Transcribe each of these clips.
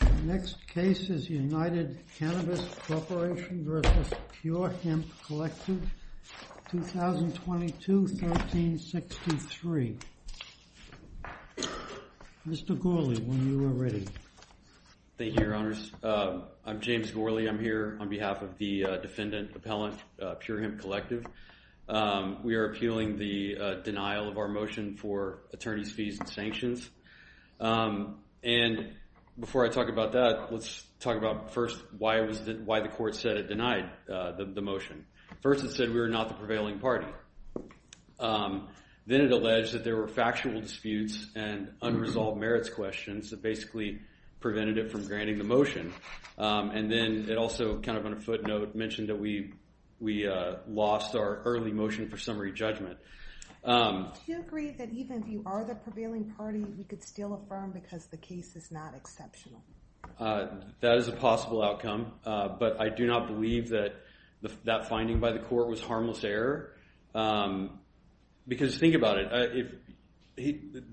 The next case is United Cannabis Corporation v. Pure Hemp Collective, 2022-1363. Mr. Gourley, when you are ready. Thank you, Your Honors. I'm James Gourley. I'm here on behalf of the defendant appellant, Pure Hemp Collective. We are appealing the denial of our motion for attorney's fees and sanctions. And before I talk about that, let's talk about first why the court said it denied the motion. First it said we were not the prevailing party. Then it alleged that there were factual disputes and unresolved merits questions that basically prevented it from granting the motion. And then it also kind of on a footnote mentioned that we lost our early motion for summary judgment. Do you agree that even if you are the prevailing party, you could still affirm because the case is not exceptional? That is a possible outcome, but I do not believe that that finding by the court was harmless error. Because think about it.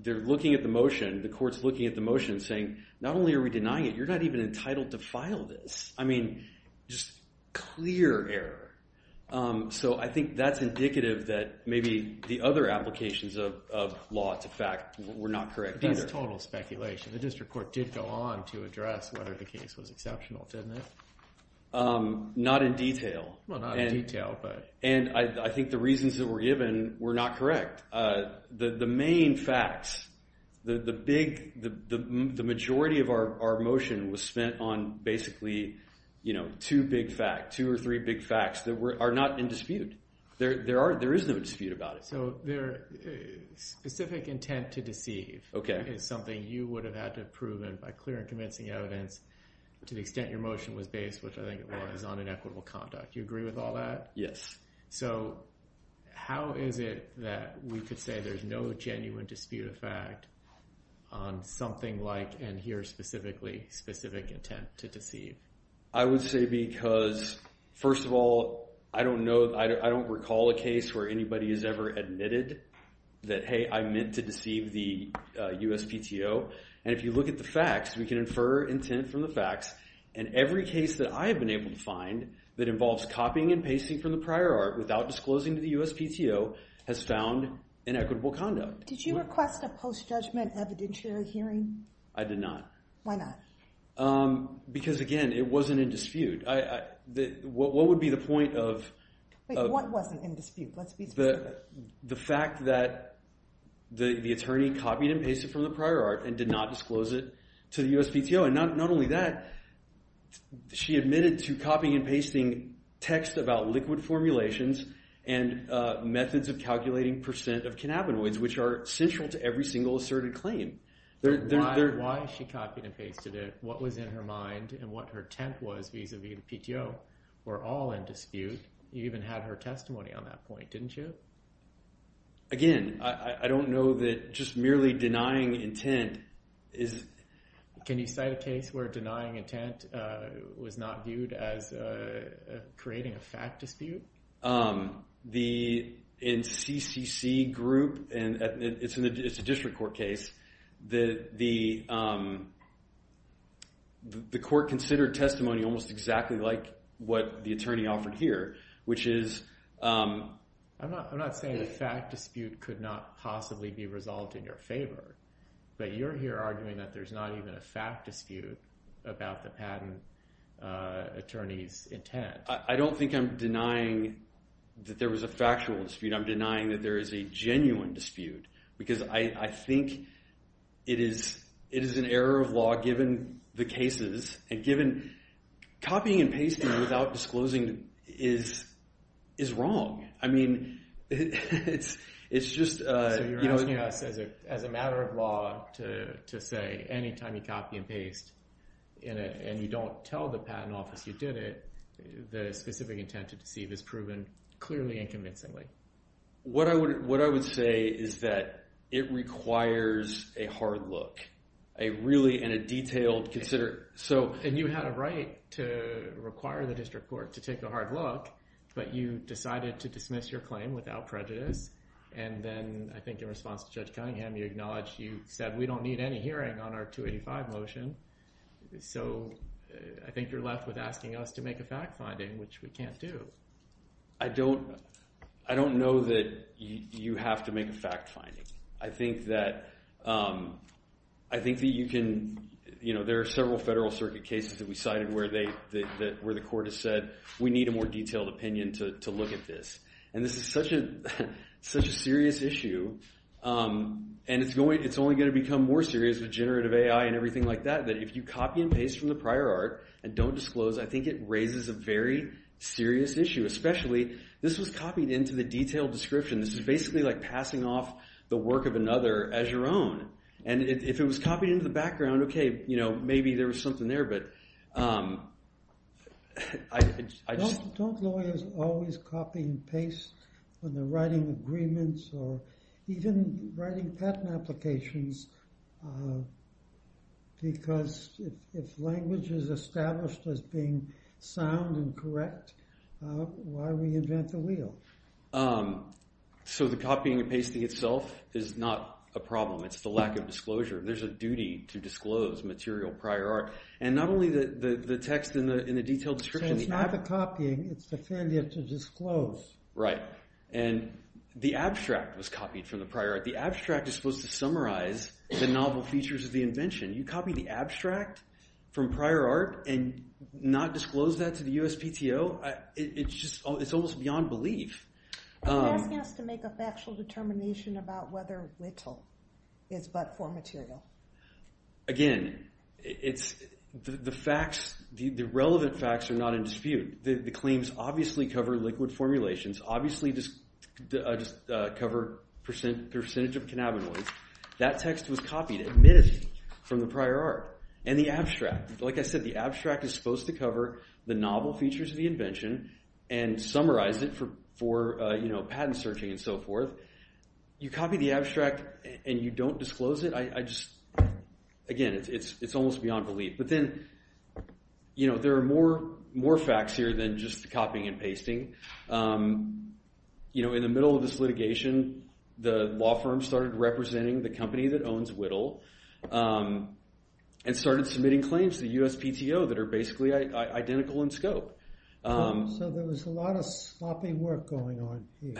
They're looking at the motion. The court's looking at the motion saying, not only are we denying it, you're not even entitled to file this. I mean, just clear error. So I think that's indicative that maybe the other applications of law to fact were not correct either. That's total speculation. The district court did go on to address whether the case was exceptional, didn't it? Not in detail. Well, not in detail, but... And I think the reasons that were given were not correct. The main facts, the majority of our motion was spent on basically two big facts, two or three big facts that are not in dispute. There is no dispute about it. So specific intent to deceive is something you would have had to have proven by clear and convincing evidence to the extent your motion was based, which I think it was, on inequitable conduct. Do you agree with all that? Yes. So how is it that we could say there's no genuine dispute of fact on something like, and here specifically, specific intent to deceive? I would say because, first of all, I don't know, I don't recall a case where anybody has ever admitted that, hey, I meant to deceive the USPTO. And if you look at the facts, we can infer intent from the facts. And every case that I have been able to find that involves copying and pasting from the prior art without disclosing to the USPTO has found inequitable conduct. Did you request a post-judgment evidentiary hearing? I did not. Why not? Because, again, it wasn't in dispute. What would be the point of... Wait, what wasn't in dispute? Let's be specific. The fact that the attorney copied and pasted from the prior art and did not disclose it to the USPTO. And not only that, she admitted to copying and pasting text about liquid formulations and methods of calculating percent of cannabinoids, which are central to every single asserted claim. Why she copied and pasted it, what was in her mind, and what her intent was vis-a-vis the PTO were all in dispute. You even had her testimony on that point, didn't you? Again, I don't know that just merely denying intent is... Can you cite a case where denying intent was not viewed as creating a fact dispute? In CCC group, and it's a district court case, the court considered testimony almost exactly like what the attorney offered here, which is... I'm not saying the fact dispute could not possibly be resolved in your favor, but you're here arguing that there's not even a fact dispute about the patent attorney's intent. I don't think I'm denying that there was a factual dispute. I'm denying that there is a genuine dispute. Because I think it is an error of law given the cases, and given... Copying and pasting without disclosing is wrong. I mean, it's just... So you're asking us, as a matter of law, to say any time you copy and paste and you don't tell the patent office you did it, the specific intent to deceive is proven clearly and convincingly. What I would say is that it requires a hard look, a really, in a detailed... And you had a right to require the district court to take a hard look, but you decided to dismiss your claim without prejudice. And then I think in response to Judge Cunningham, you acknowledged, you said, we don't need any hearing on our 285 motion. So I think you're left with asking us to make a fact finding, which we can't do. I don't know that you have to make a fact finding. I think that you can... There are several federal circuit cases that we cited where the court has said, we need a more detailed opinion to look at this. And this is such a serious issue, and it's only going to become more serious with generative AI and everything like that. That if you copy and paste from the prior art and don't disclose, I think it raises a very serious issue. Especially, this was copied into the detailed description. This is basically like passing off the work of another as your own. And if it was copied into the background, okay, maybe there was something there, but I just... Don't lawyers always copy and paste when they're writing agreements or even writing patent applications? Because if language is established as being sound and correct, why reinvent the wheel? So the copying and pasting itself is not a problem. It's the lack of disclosure. There's a duty to disclose material prior art. And not only the text in the detailed description... It's not the copying. It's the failure to disclose. Right. And the abstract was copied from the prior art. The abstract is supposed to summarize the novel features of the invention. You copy the abstract from prior art and not disclose that to the USPTO? It's almost beyond belief. You're asking us to make a factual determination about whether Whittle is but for material. Again, the facts, the relevant facts are not in dispute. The claims obviously cover liquid formulations, obviously just cover percentage of cannabinoids. That text was copied, admittedly, from the prior art. And the abstract, like I said, the abstract is supposed to cover the novel features of the invention and summarize it for patent searching and so forth. You copy the abstract and you don't disclose it? Again, it's almost beyond belief. But then there are more facts here than just the copying and pasting. In the middle of this litigation, the law firm started representing the company that owns Whittle and started submitting claims to the USPTO that are basically identical in scope. So there was a lot of sloppy work going on here.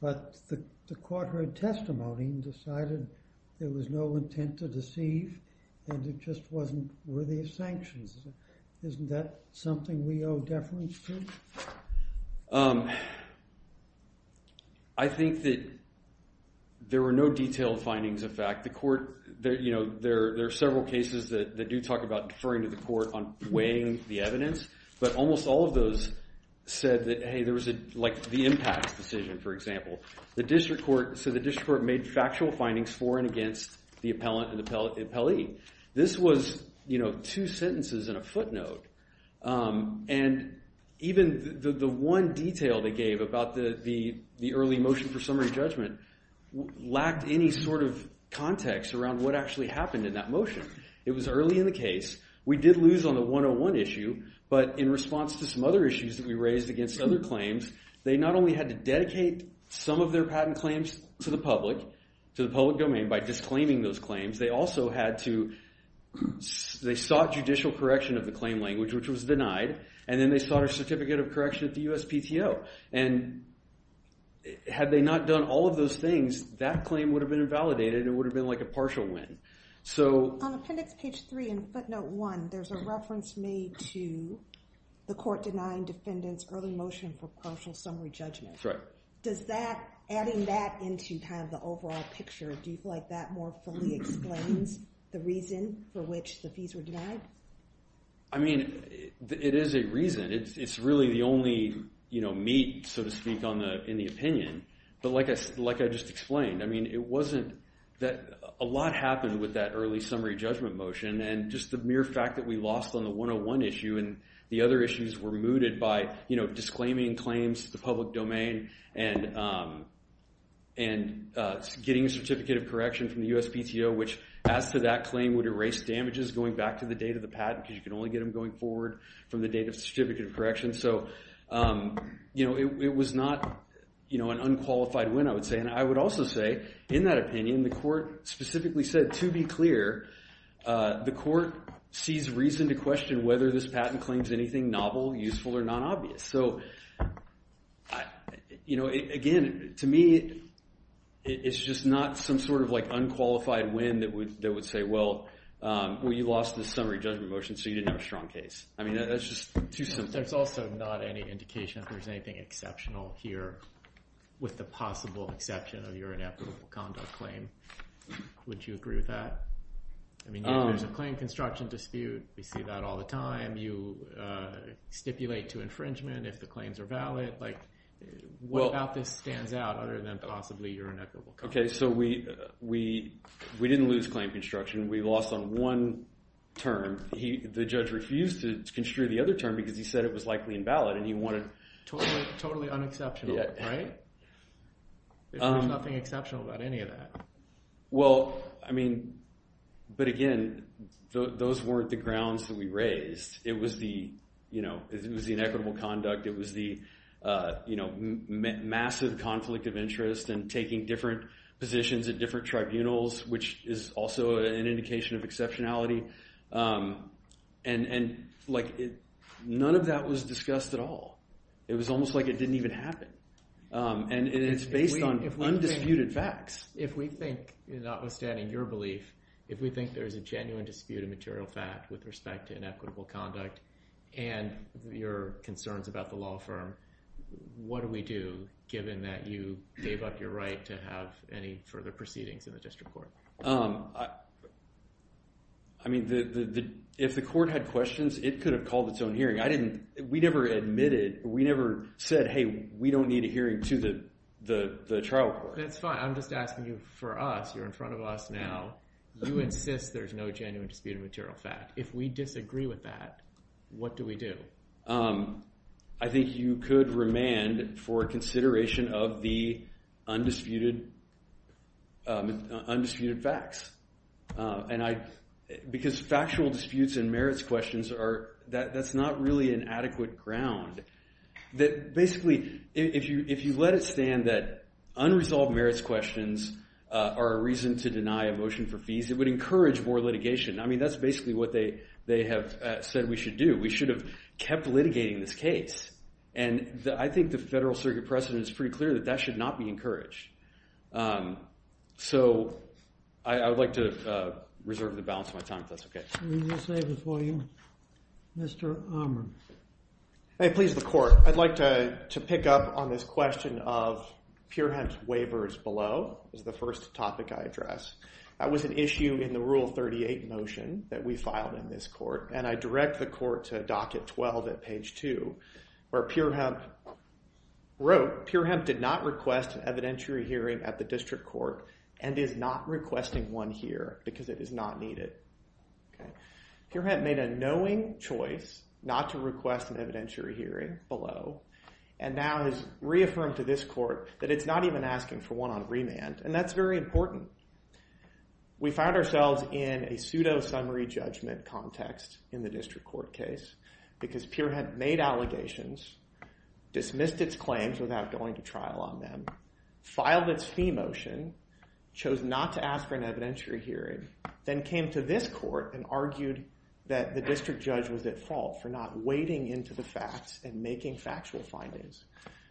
But the court heard testimony and decided there was no intent to deceive and it just wasn't worthy of sanctions. Isn't that something we owe deference to? I think that there were no detailed findings of fact. There are several cases that do talk about deferring to the court on weighing the evidence. But almost all of those said that, hey, there was the impact decision, for example. The district court made factual findings for and against the appellant and the appellee. This was two sentences and a footnote. And even the one detail they gave about the early motion for summary judgment lacked any sort of context around what actually happened in that motion. It was early in the case. We did lose on the 101 issue. But in response to some other issues that we raised against other claims, they not only had to dedicate some of their patent claims to the public, to the public domain, by disclaiming those claims. They also had to—they sought judicial correction of the claim language, which was denied. And then they sought a certificate of correction at the USPTO. And had they not done all of those things, that claim would have been invalidated and it would have been like a partial win. So— On appendix page 3 in footnote 1, there's a reference made to the court denying defendants early motion for partial summary judgment. That's right. Does that—adding that into kind of the overall picture, do you feel like that more fully explains the reason for which the fees were denied? I mean, it is a reason. It's really the only meat, so to speak, in the opinion. But like I just explained, I mean, it wasn't—a lot happened with that early summary judgment motion. And just the mere fact that we lost on the 101 issue and the other issues were mooted by, you know, disclaiming claims to the public domain and getting a certificate of correction from the USPTO, which as to that claim would erase damages going back to the date of the patent because you can only get them going forward from the date of certificate of correction. So, you know, it was not, you know, an unqualified win, I would say. And I would also say, in that opinion, the court specifically said, to be clear, the court sees reason to question whether this patent claims anything novel, useful, or non-obvious. So, you know, again, to me, it's just not some sort of like unqualified win that would say, well, you lost the summary judgment motion, so you didn't have a strong case. I mean, that's just too simple. There's also not any indication that there's anything exceptional here with the possible exception of your inequitable conduct claim. Would you agree with that? I mean, there's a claim construction dispute. We see that all the time. You stipulate to infringement if the claims are valid. Like what about this stands out other than possibly your inequitable conduct? Okay, so we didn't lose claim construction. We lost on one term. The judge refused to construe the other term because he said it was likely invalid. Totally unexceptional, right? There's nothing exceptional about any of that. Well, I mean, but again, those weren't the grounds that we raised. It was the, you know, it was the inequitable conduct. It was the, you know, massive conflict of interest and taking different positions at different tribunals, which is also an indication of exceptionality. And, like, none of that was discussed at all. It was almost like it didn't even happen. And it's based on undisputed facts. If we think, notwithstanding your belief, if we think there's a genuine dispute of material fact with respect to inequitable conduct and your concerns about the law firm, what do we do given that you gave up your right to have any further proceedings in the district court? I mean, if the court had questions, it could have called its own hearing. We never admitted, we never said, hey, we don't need a hearing to the trial court. That's fine. I'm just asking you for us. You're in front of us now. You insist there's no genuine dispute of material fact. If we disagree with that, what do we do? I think you could remand for consideration of the undisputed facts. Because factual disputes and merits questions, that's not really an adequate ground. Basically, if you let it stand that unresolved merits questions are a reason to deny a motion for fees, it would encourage more litigation. I mean, that's basically what they have said we should do. We should have kept litigating this case. And I think the Federal Circuit precedent is pretty clear that that should not be encouraged. So I would like to reserve the balance of my time if that's okay. Let me just say before you, Mr. Armand. Hey, please, the court. I'd like to pick up on this question of pure hence waivers below is the first topic I address. That was an issue in the Rule 38 motion that we filed in this court, and I direct the court to Docket 12 at page 2 where Pure Hemp wrote, Pure Hemp did not request an evidentiary hearing at the district court and is not requesting one here because it is not needed. Pure Hemp made a knowing choice not to request an evidentiary hearing below and now has reaffirmed to this court that it's not even asking for one on remand, and that's very important. We found ourselves in a pseudo-summary judgment context in the district court case because Pure Hemp made allegations, dismissed its claims without going to trial on them, filed its fee motion, chose not to ask for an evidentiary hearing, then came to this court and argued that the district judge was at fault for not wading into the facts and making factual findings.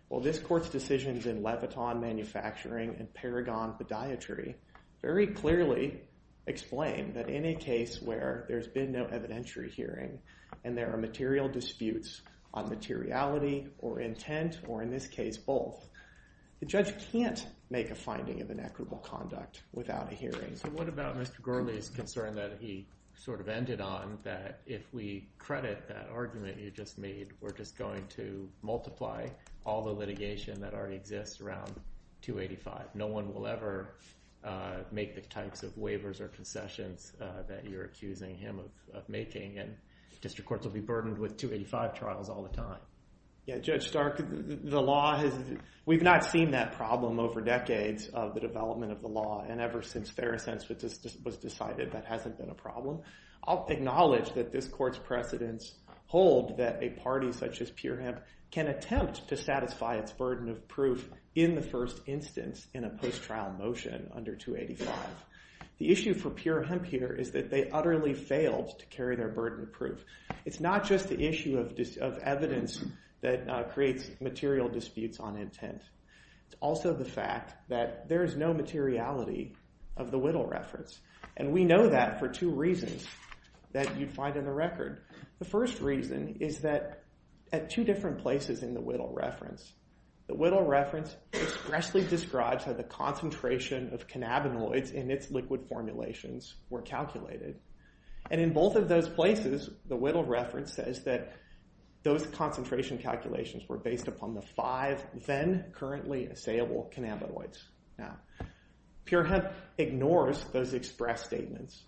Well, this court's decisions in Leviton Manufacturing and Paragon Podiatry very clearly explain that in a case where there's been no evidentiary hearing and there are material disputes on materiality or intent or in this case both, the judge can't make a finding of an equitable conduct without a hearing. So what about Mr. Gurley's concern that he sort of ended on that if we credit that argument you just made, we're just going to multiply all the litigation that already exists around 285? No one will ever make the types of waivers or concessions that you're accusing him of making, and district courts will be burdened with 285 trials all the time. Judge Stark, the law has – we've not seen that problem over decades of the development of the law, and ever since Fair Assents was decided that hasn't been a problem. I'll acknowledge that this court's precedents hold that a party such as Peerhemp can attempt to satisfy its burden of proof in the first instance in a post-trial motion under 285. The issue for Peerhemp here is that they utterly failed to carry their burden of proof. It's not just the issue of evidence that creates material disputes on intent. It's also the fact that there is no materiality of the Whittle reference, and we know that for two reasons that you'd find in the record. The first reason is that at two different places in the Whittle reference, the Whittle reference expressly describes how the concentration of cannabinoids in its liquid formulations were calculated, and in both of those places the Whittle reference says that those concentration calculations were based upon the five then currently assayable cannabinoids. Now, Peerhemp ignores those express statements.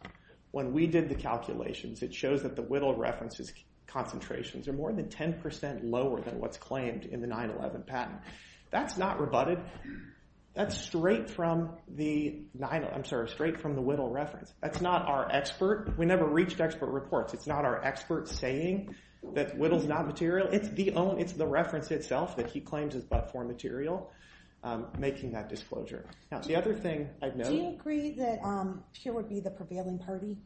When we did the calculations, it shows that the Whittle reference's concentrations are more than 10% lower than what's claimed in the 9-11 patent. That's not rebutted. That's straight from the Whittle reference. That's not our expert. We never reached expert reports. It's not our expert saying that Whittle's not material. It's the reference itself that he claims is but for material, making that disclosure. Now, the other thing I've noted... Do you agree that Peer would be the prevailing party?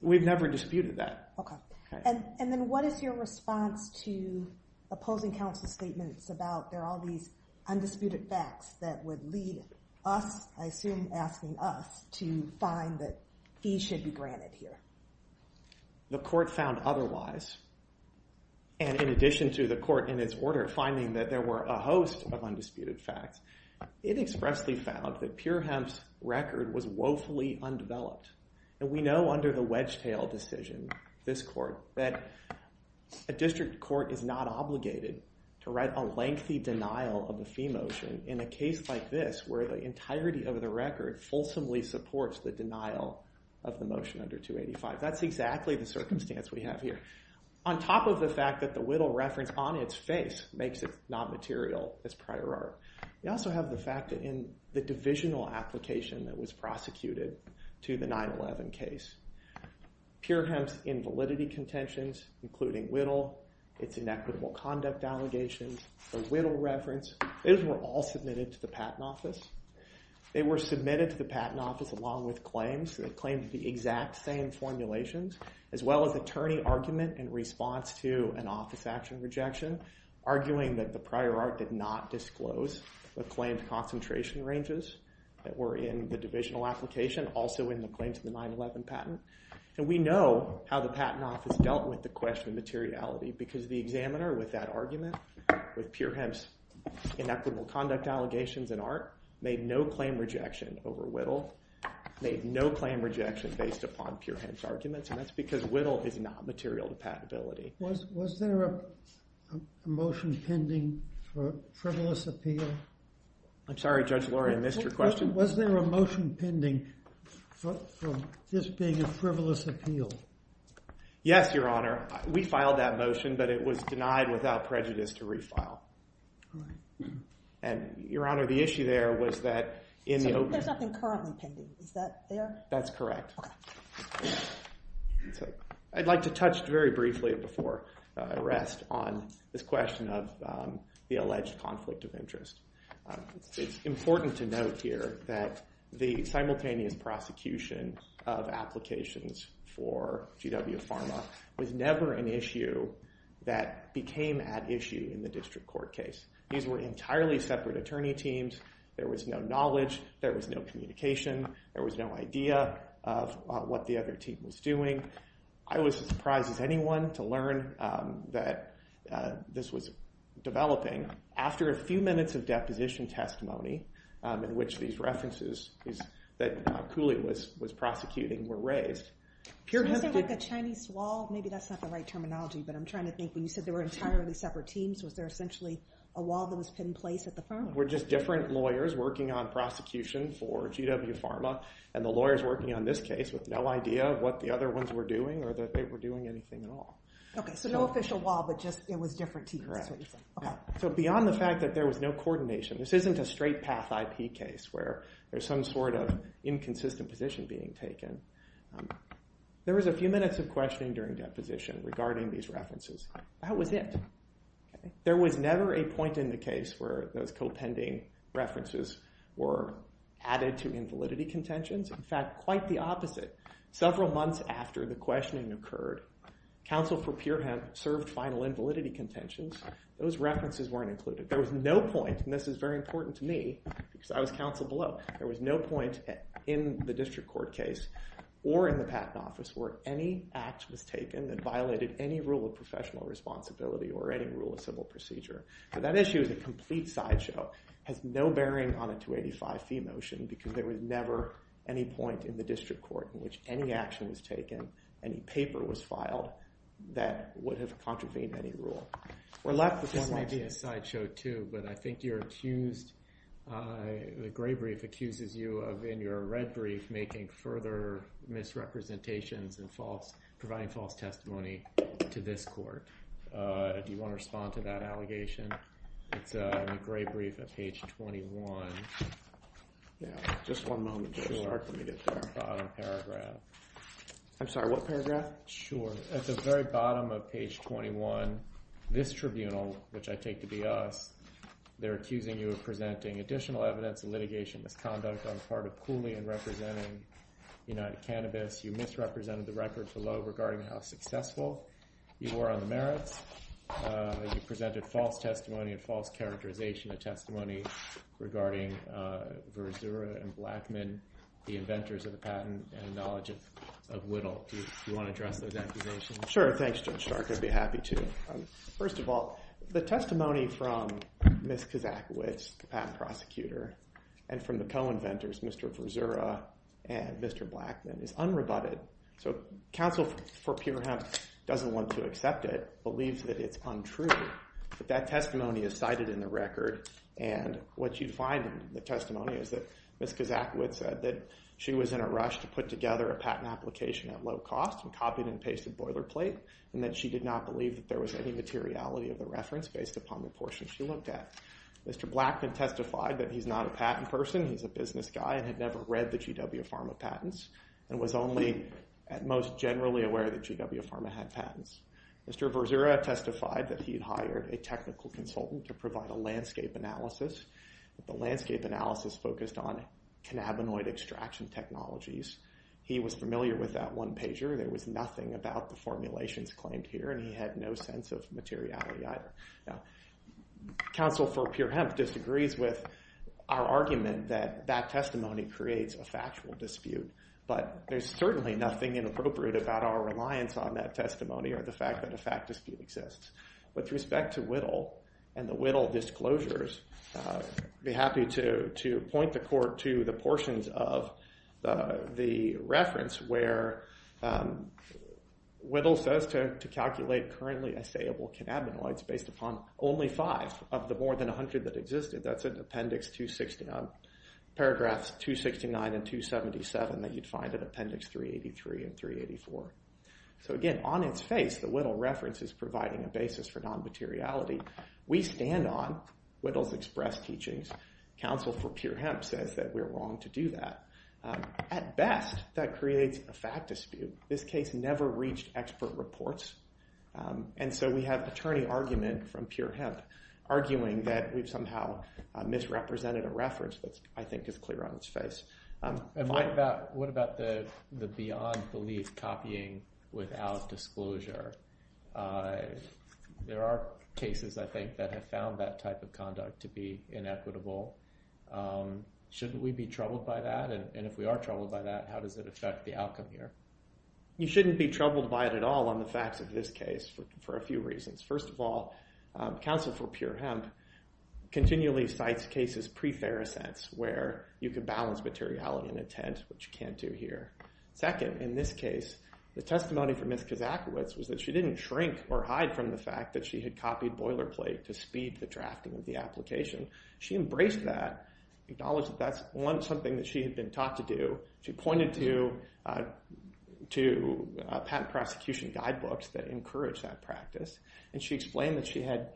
We've never disputed that. Okay. And then what is your response to opposing counsel's statements about there are all these undisputed facts that would lead us, I assume asking us, to find that he should be granted here? The court found otherwise, and in addition to the court in its order finding that there were a host of undisputed facts, it expressly found that Peerhemp's record was woefully undeveloped. And we know under the Wedgetail decision, this court, that a district court is not obligated to write a lengthy denial of a fee motion in a case like this where the entirety of the record fulsomely supports the denial of the motion under 285. That's exactly the circumstance we have here. On top of the fact that the Whittle reference on its face makes it not material as prior art, we also have the fact that in the divisional application that was prosecuted to the 9-11 case, Peerhemp's invalidity contentions, including Whittle, its inequitable conduct allegations, the Whittle reference, those were all submitted to the Patent Office. They were submitted to the Patent Office along with claims. They claimed the exact same formulations as well as attorney argument in response to an office action rejection, arguing that the prior art did not disclose the claimed concentration ranges that were in the divisional application, also in the claims of the 9-11 patent. And we know how the Patent Office dealt with the question of materiality because the examiner with that argument, with Peerhemp's inequitable conduct allegations and art, made no claim rejection over Whittle, made no claim rejection based upon Peerhemp's arguments, and that's because Whittle is not material to patentability. Was there a motion pending for a frivolous appeal? I'm sorry, Judge Lora, I missed your question. Was there a motion pending for this being a frivolous appeal? Yes, Your Honor. We filed that motion, but it was denied without prejudice to refile. And, Your Honor, the issue there was that in the open… There's nothing currently pending. Is that there? That's correct. I'd like to touch very briefly before I rest on this question of the alleged conflict of interest. It's important to note here that the simultaneous prosecution of applications for GW Pharma was never an issue that became at issue in the district court case. These were entirely separate attorney teams. There was no knowledge. There was no communication. There was no idea of what the other team was doing. I was as surprised as anyone to learn that this was developing. After a few minutes of deposition testimony, in which these references that Cooley was prosecuting were raised… Was there like a Chinese wall? Maybe that's not the right terminology, but I'm trying to think. When you said there were entirely separate teams, was there essentially a wall that was put in place at the firm? There were just different lawyers working on prosecution for GW Pharma and the lawyers working on this case with no idea of what the other ones were doing or that they were doing anything at all. Okay, so no official wall, but just it was different teams. Correct. So beyond the fact that there was no coordination, this isn't a straight path IP case where there's some sort of inconsistent position being taken. There was a few minutes of questioning during deposition regarding these references. That was it. There was never a point in the case where those co-pending references were added to invalidity contentions. In fact, quite the opposite. Several months after the questioning occurred, counsel for Pure Hemp served final invalidity contentions. Those references weren't included. There was no point, and this is very important to me, because I was counsel below. There was no point in the district court case or in the patent office where any act was taken that violated any rule of professional responsibility or any rule of civil procedure. So that issue is a complete sideshow. It has no bearing on a 285 fee motion because there was never any point in the district court in which any action was taken, any paper was filed, that would have contravened any rule. This may be a sideshow too, but I think you're accused, the gray brief accuses you of, in your red brief, making further misrepresentations and providing false testimony to this court. Do you want to respond to that allegation? It's in the gray brief at page 21. Yeah, just one moment to start. Let me get to the bottom paragraph. I'm sorry, what paragraph? Sure. At the very bottom of page 21, this tribunal, which I take to be us, they're accusing you of presenting additional evidence of litigation misconduct on the part of Cooley in representing United Cannabis. You misrepresented the record below regarding how successful you were on the merits. You presented false testimony and false characterization of testimony regarding Verzura and Blackman, the inventors of the patent, and knowledge of Whittle. Do you want to address those accusations? Sure, thanks, Judge Stark. I'd be happy to. First of all, the testimony from Ms. Kazakowicz, the patent prosecutor, and from the co-inventors, Mr. Verzura and Mr. Blackman, is unrebutted. So counsel for Pure Hemp doesn't want to accept it, believes that it's untrue, but that testimony is cited in the record, and what you find in the testimony is that Ms. Kazakowicz said she was in a rush to put together a patent application at low cost and copied and pasted boilerplate, and that she did not believe that there was any materiality of the reference based upon the portion she looked at. Mr. Blackman testified that he's not a patent person, he's a business guy, and had never read the GW Pharma patents and was only at most generally aware that GW Pharma had patents. Mr. Verzura testified that he had hired a technical consultant to provide a landscape analysis, but the landscape analysis focused on cannabinoid extraction technologies. He was familiar with that one pager. There was nothing about the formulations claimed here, and he had no sense of materiality. Now, counsel for Pure Hemp disagrees with our argument that that testimony creates a factual dispute, but there's certainly nothing inappropriate about our reliance on that testimony or the fact that a fact dispute exists. With respect to Whittle and the Whittle disclosures, I'd be happy to point the court to the portions of the reference where Whittle says to calculate currently assayable cannabinoids based upon only five of the more than 100 that existed. That's in appendix 269, paragraphs 269 and 277 that you'd find in appendix 383 and 384. So again, on its face, the Whittle reference is providing a basis for non-materiality. We stand on Whittle's express teachings. Counsel for Pure Hemp says that we're wrong to do that. At best, that creates a fact dispute. This case never reached expert reports, and so we have attorney argument from Pure Hemp arguing that we've somehow misrepresented a reference that I think is clear on its face. What about the beyond belief copying without disclosure? There are cases, I think, that have found that type of conduct to be inequitable. Shouldn't we be troubled by that? And if we are troubled by that, how does it affect the outcome here? You shouldn't be troubled by it at all on the facts of this case for a few reasons. First of all, Counsel for Pure Hemp continually cites cases pre-Ferrisense where you could balance materiality and intent, which you can't do here. Second, in this case, the testimony from Ms. Kazakowicz was that she didn't shrink or hide from the fact that she had copied boilerplate to speed the drafting of the application. She embraced that, acknowledged that that's, one, something that she had been taught to do. She pointed to patent prosecution guidebooks that encouraged that practice, and she explained that she had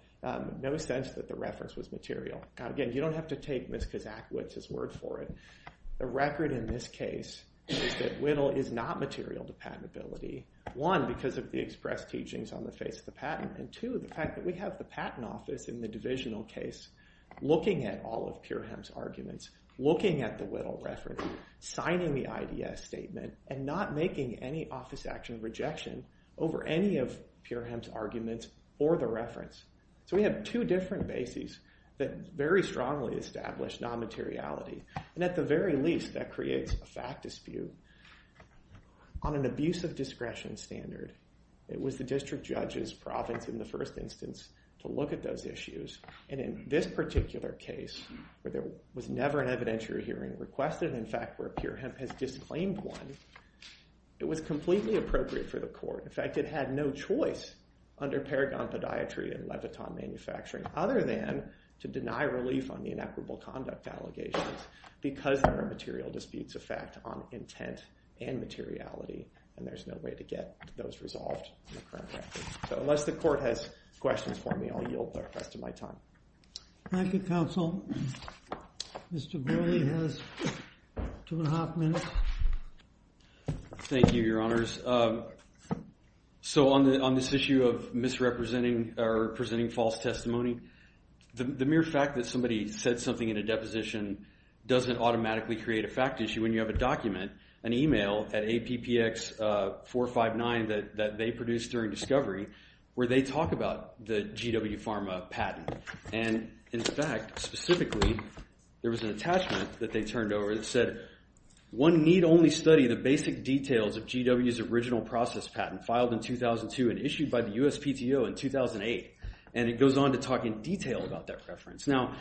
no sense that the reference was material. Again, you don't have to take Ms. Kazakowicz's word for it. The record in this case is that Whittle is not material to patentability, one, because of the express teachings on the face of the patent, and two, the fact that we have the Patent Office in the divisional case looking at all of Pure Hemp's arguments, looking at the Whittle reference, signing the IDS statement, and not making any office action rejection over any of Pure Hemp's arguments or the reference. So we have two different bases that very strongly establish non-materiality, and at the very least, that creates a fact dispute. On an abuse of discretion standard, it was the district judge's province in the first instance to look at those issues, and in this particular case, where there was never an evidentiary hearing requested, in fact, where Pure Hemp has disclaimed one, it was completely appropriate for the court. In fact, it had no choice under Paragon Podiatry and Leviton Manufacturing other than to deny relief on the inequitable conduct allegations because there are material disputes of fact on intent and materiality, and there's no way to get those resolved in the current record. So unless the court has questions for me, I'll yield the rest of my time. Thank you, counsel. Mr. Gorley has two and a half minutes. Thank you, Your Honors. So on this issue of misrepresenting or presenting false testimony, the mere fact that somebody said something in a deposition doesn't automatically create a fact issue when you have a document, an email at APPX 459 that they produced during discovery where they talk about the GW Pharma patent, and in fact, specifically, there was an attachment that they turned over that said, one need only study the basic details of GW's original process patent filed in 2002 and issued by the USPTO in 2008, and it goes on to talk in detail about that reference. Now,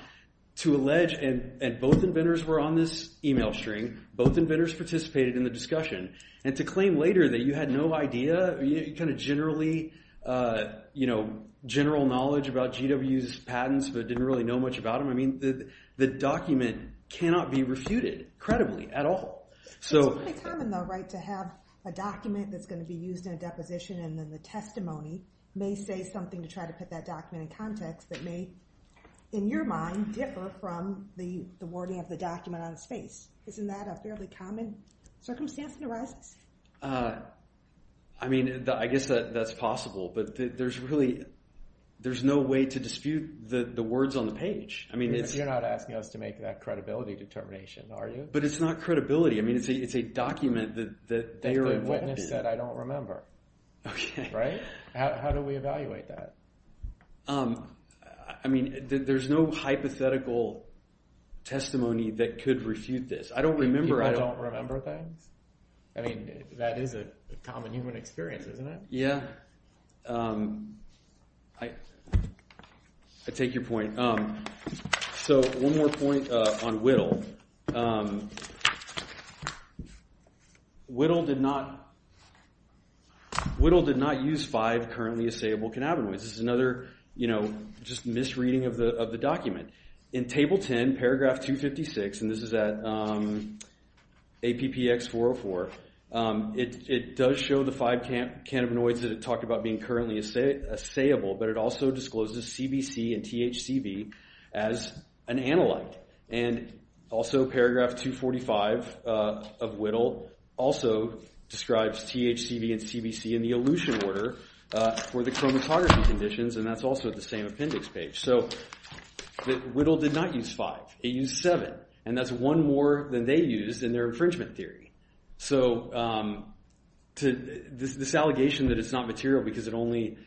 to allege, and both inventors were on this email string, both inventors participated in the discussion, and to claim later that you had no idea, kind of general knowledge about GW's patents but didn't really know much about them, I mean, the document cannot be refuted credibly at all. It's fairly common, though, right, to have a document that's going to be used in a deposition and then the testimony may say something to try to put that document in context that may, in your mind, differ from the wording of the document on its face. Isn't that a fairly common circumstance that arises? I mean, I guess that's possible, You're not asking us to make that credibility determination, are you? But it's not credibility. I mean, it's a document that they are aware of. A witness said, I don't remember. Right? How do we evaluate that? I mean, there's no hypothetical testimony that could refute this. I don't remember. People don't remember things? I mean, that is a common human experience, isn't it? Yeah, I take your point. So one more point on Whittle. Whittle did not use five currently assayable cannabinoids. This is another misreading of the document. In Table 10, Paragraph 256, and this is at APPX 404, it does show the five cannabinoids that it talked about being currently assayable, but it also discloses CBC and THCV as an analyte. And also, Paragraph 245 of Whittle also describes THCV and CBC in the elution order for the chromatography conditions, and that's also at the same appendix page. So Whittle did not use five. It used seven. And that's one more than they used in their infringement theory. So this allegation that it's not material because it only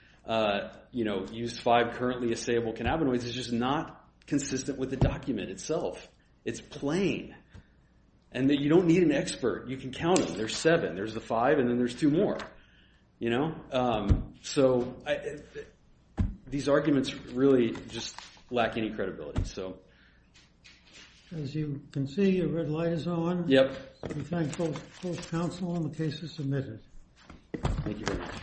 used five currently assayable cannabinoids is just not consistent with the document itself. It's plain, and you don't need an expert. You can count them. There's seven. There's the five, and then there's two more. So these arguments really just lack any credibility. As you can see, your red light is on. We thank both counsel on the cases submitted. Thank you very much.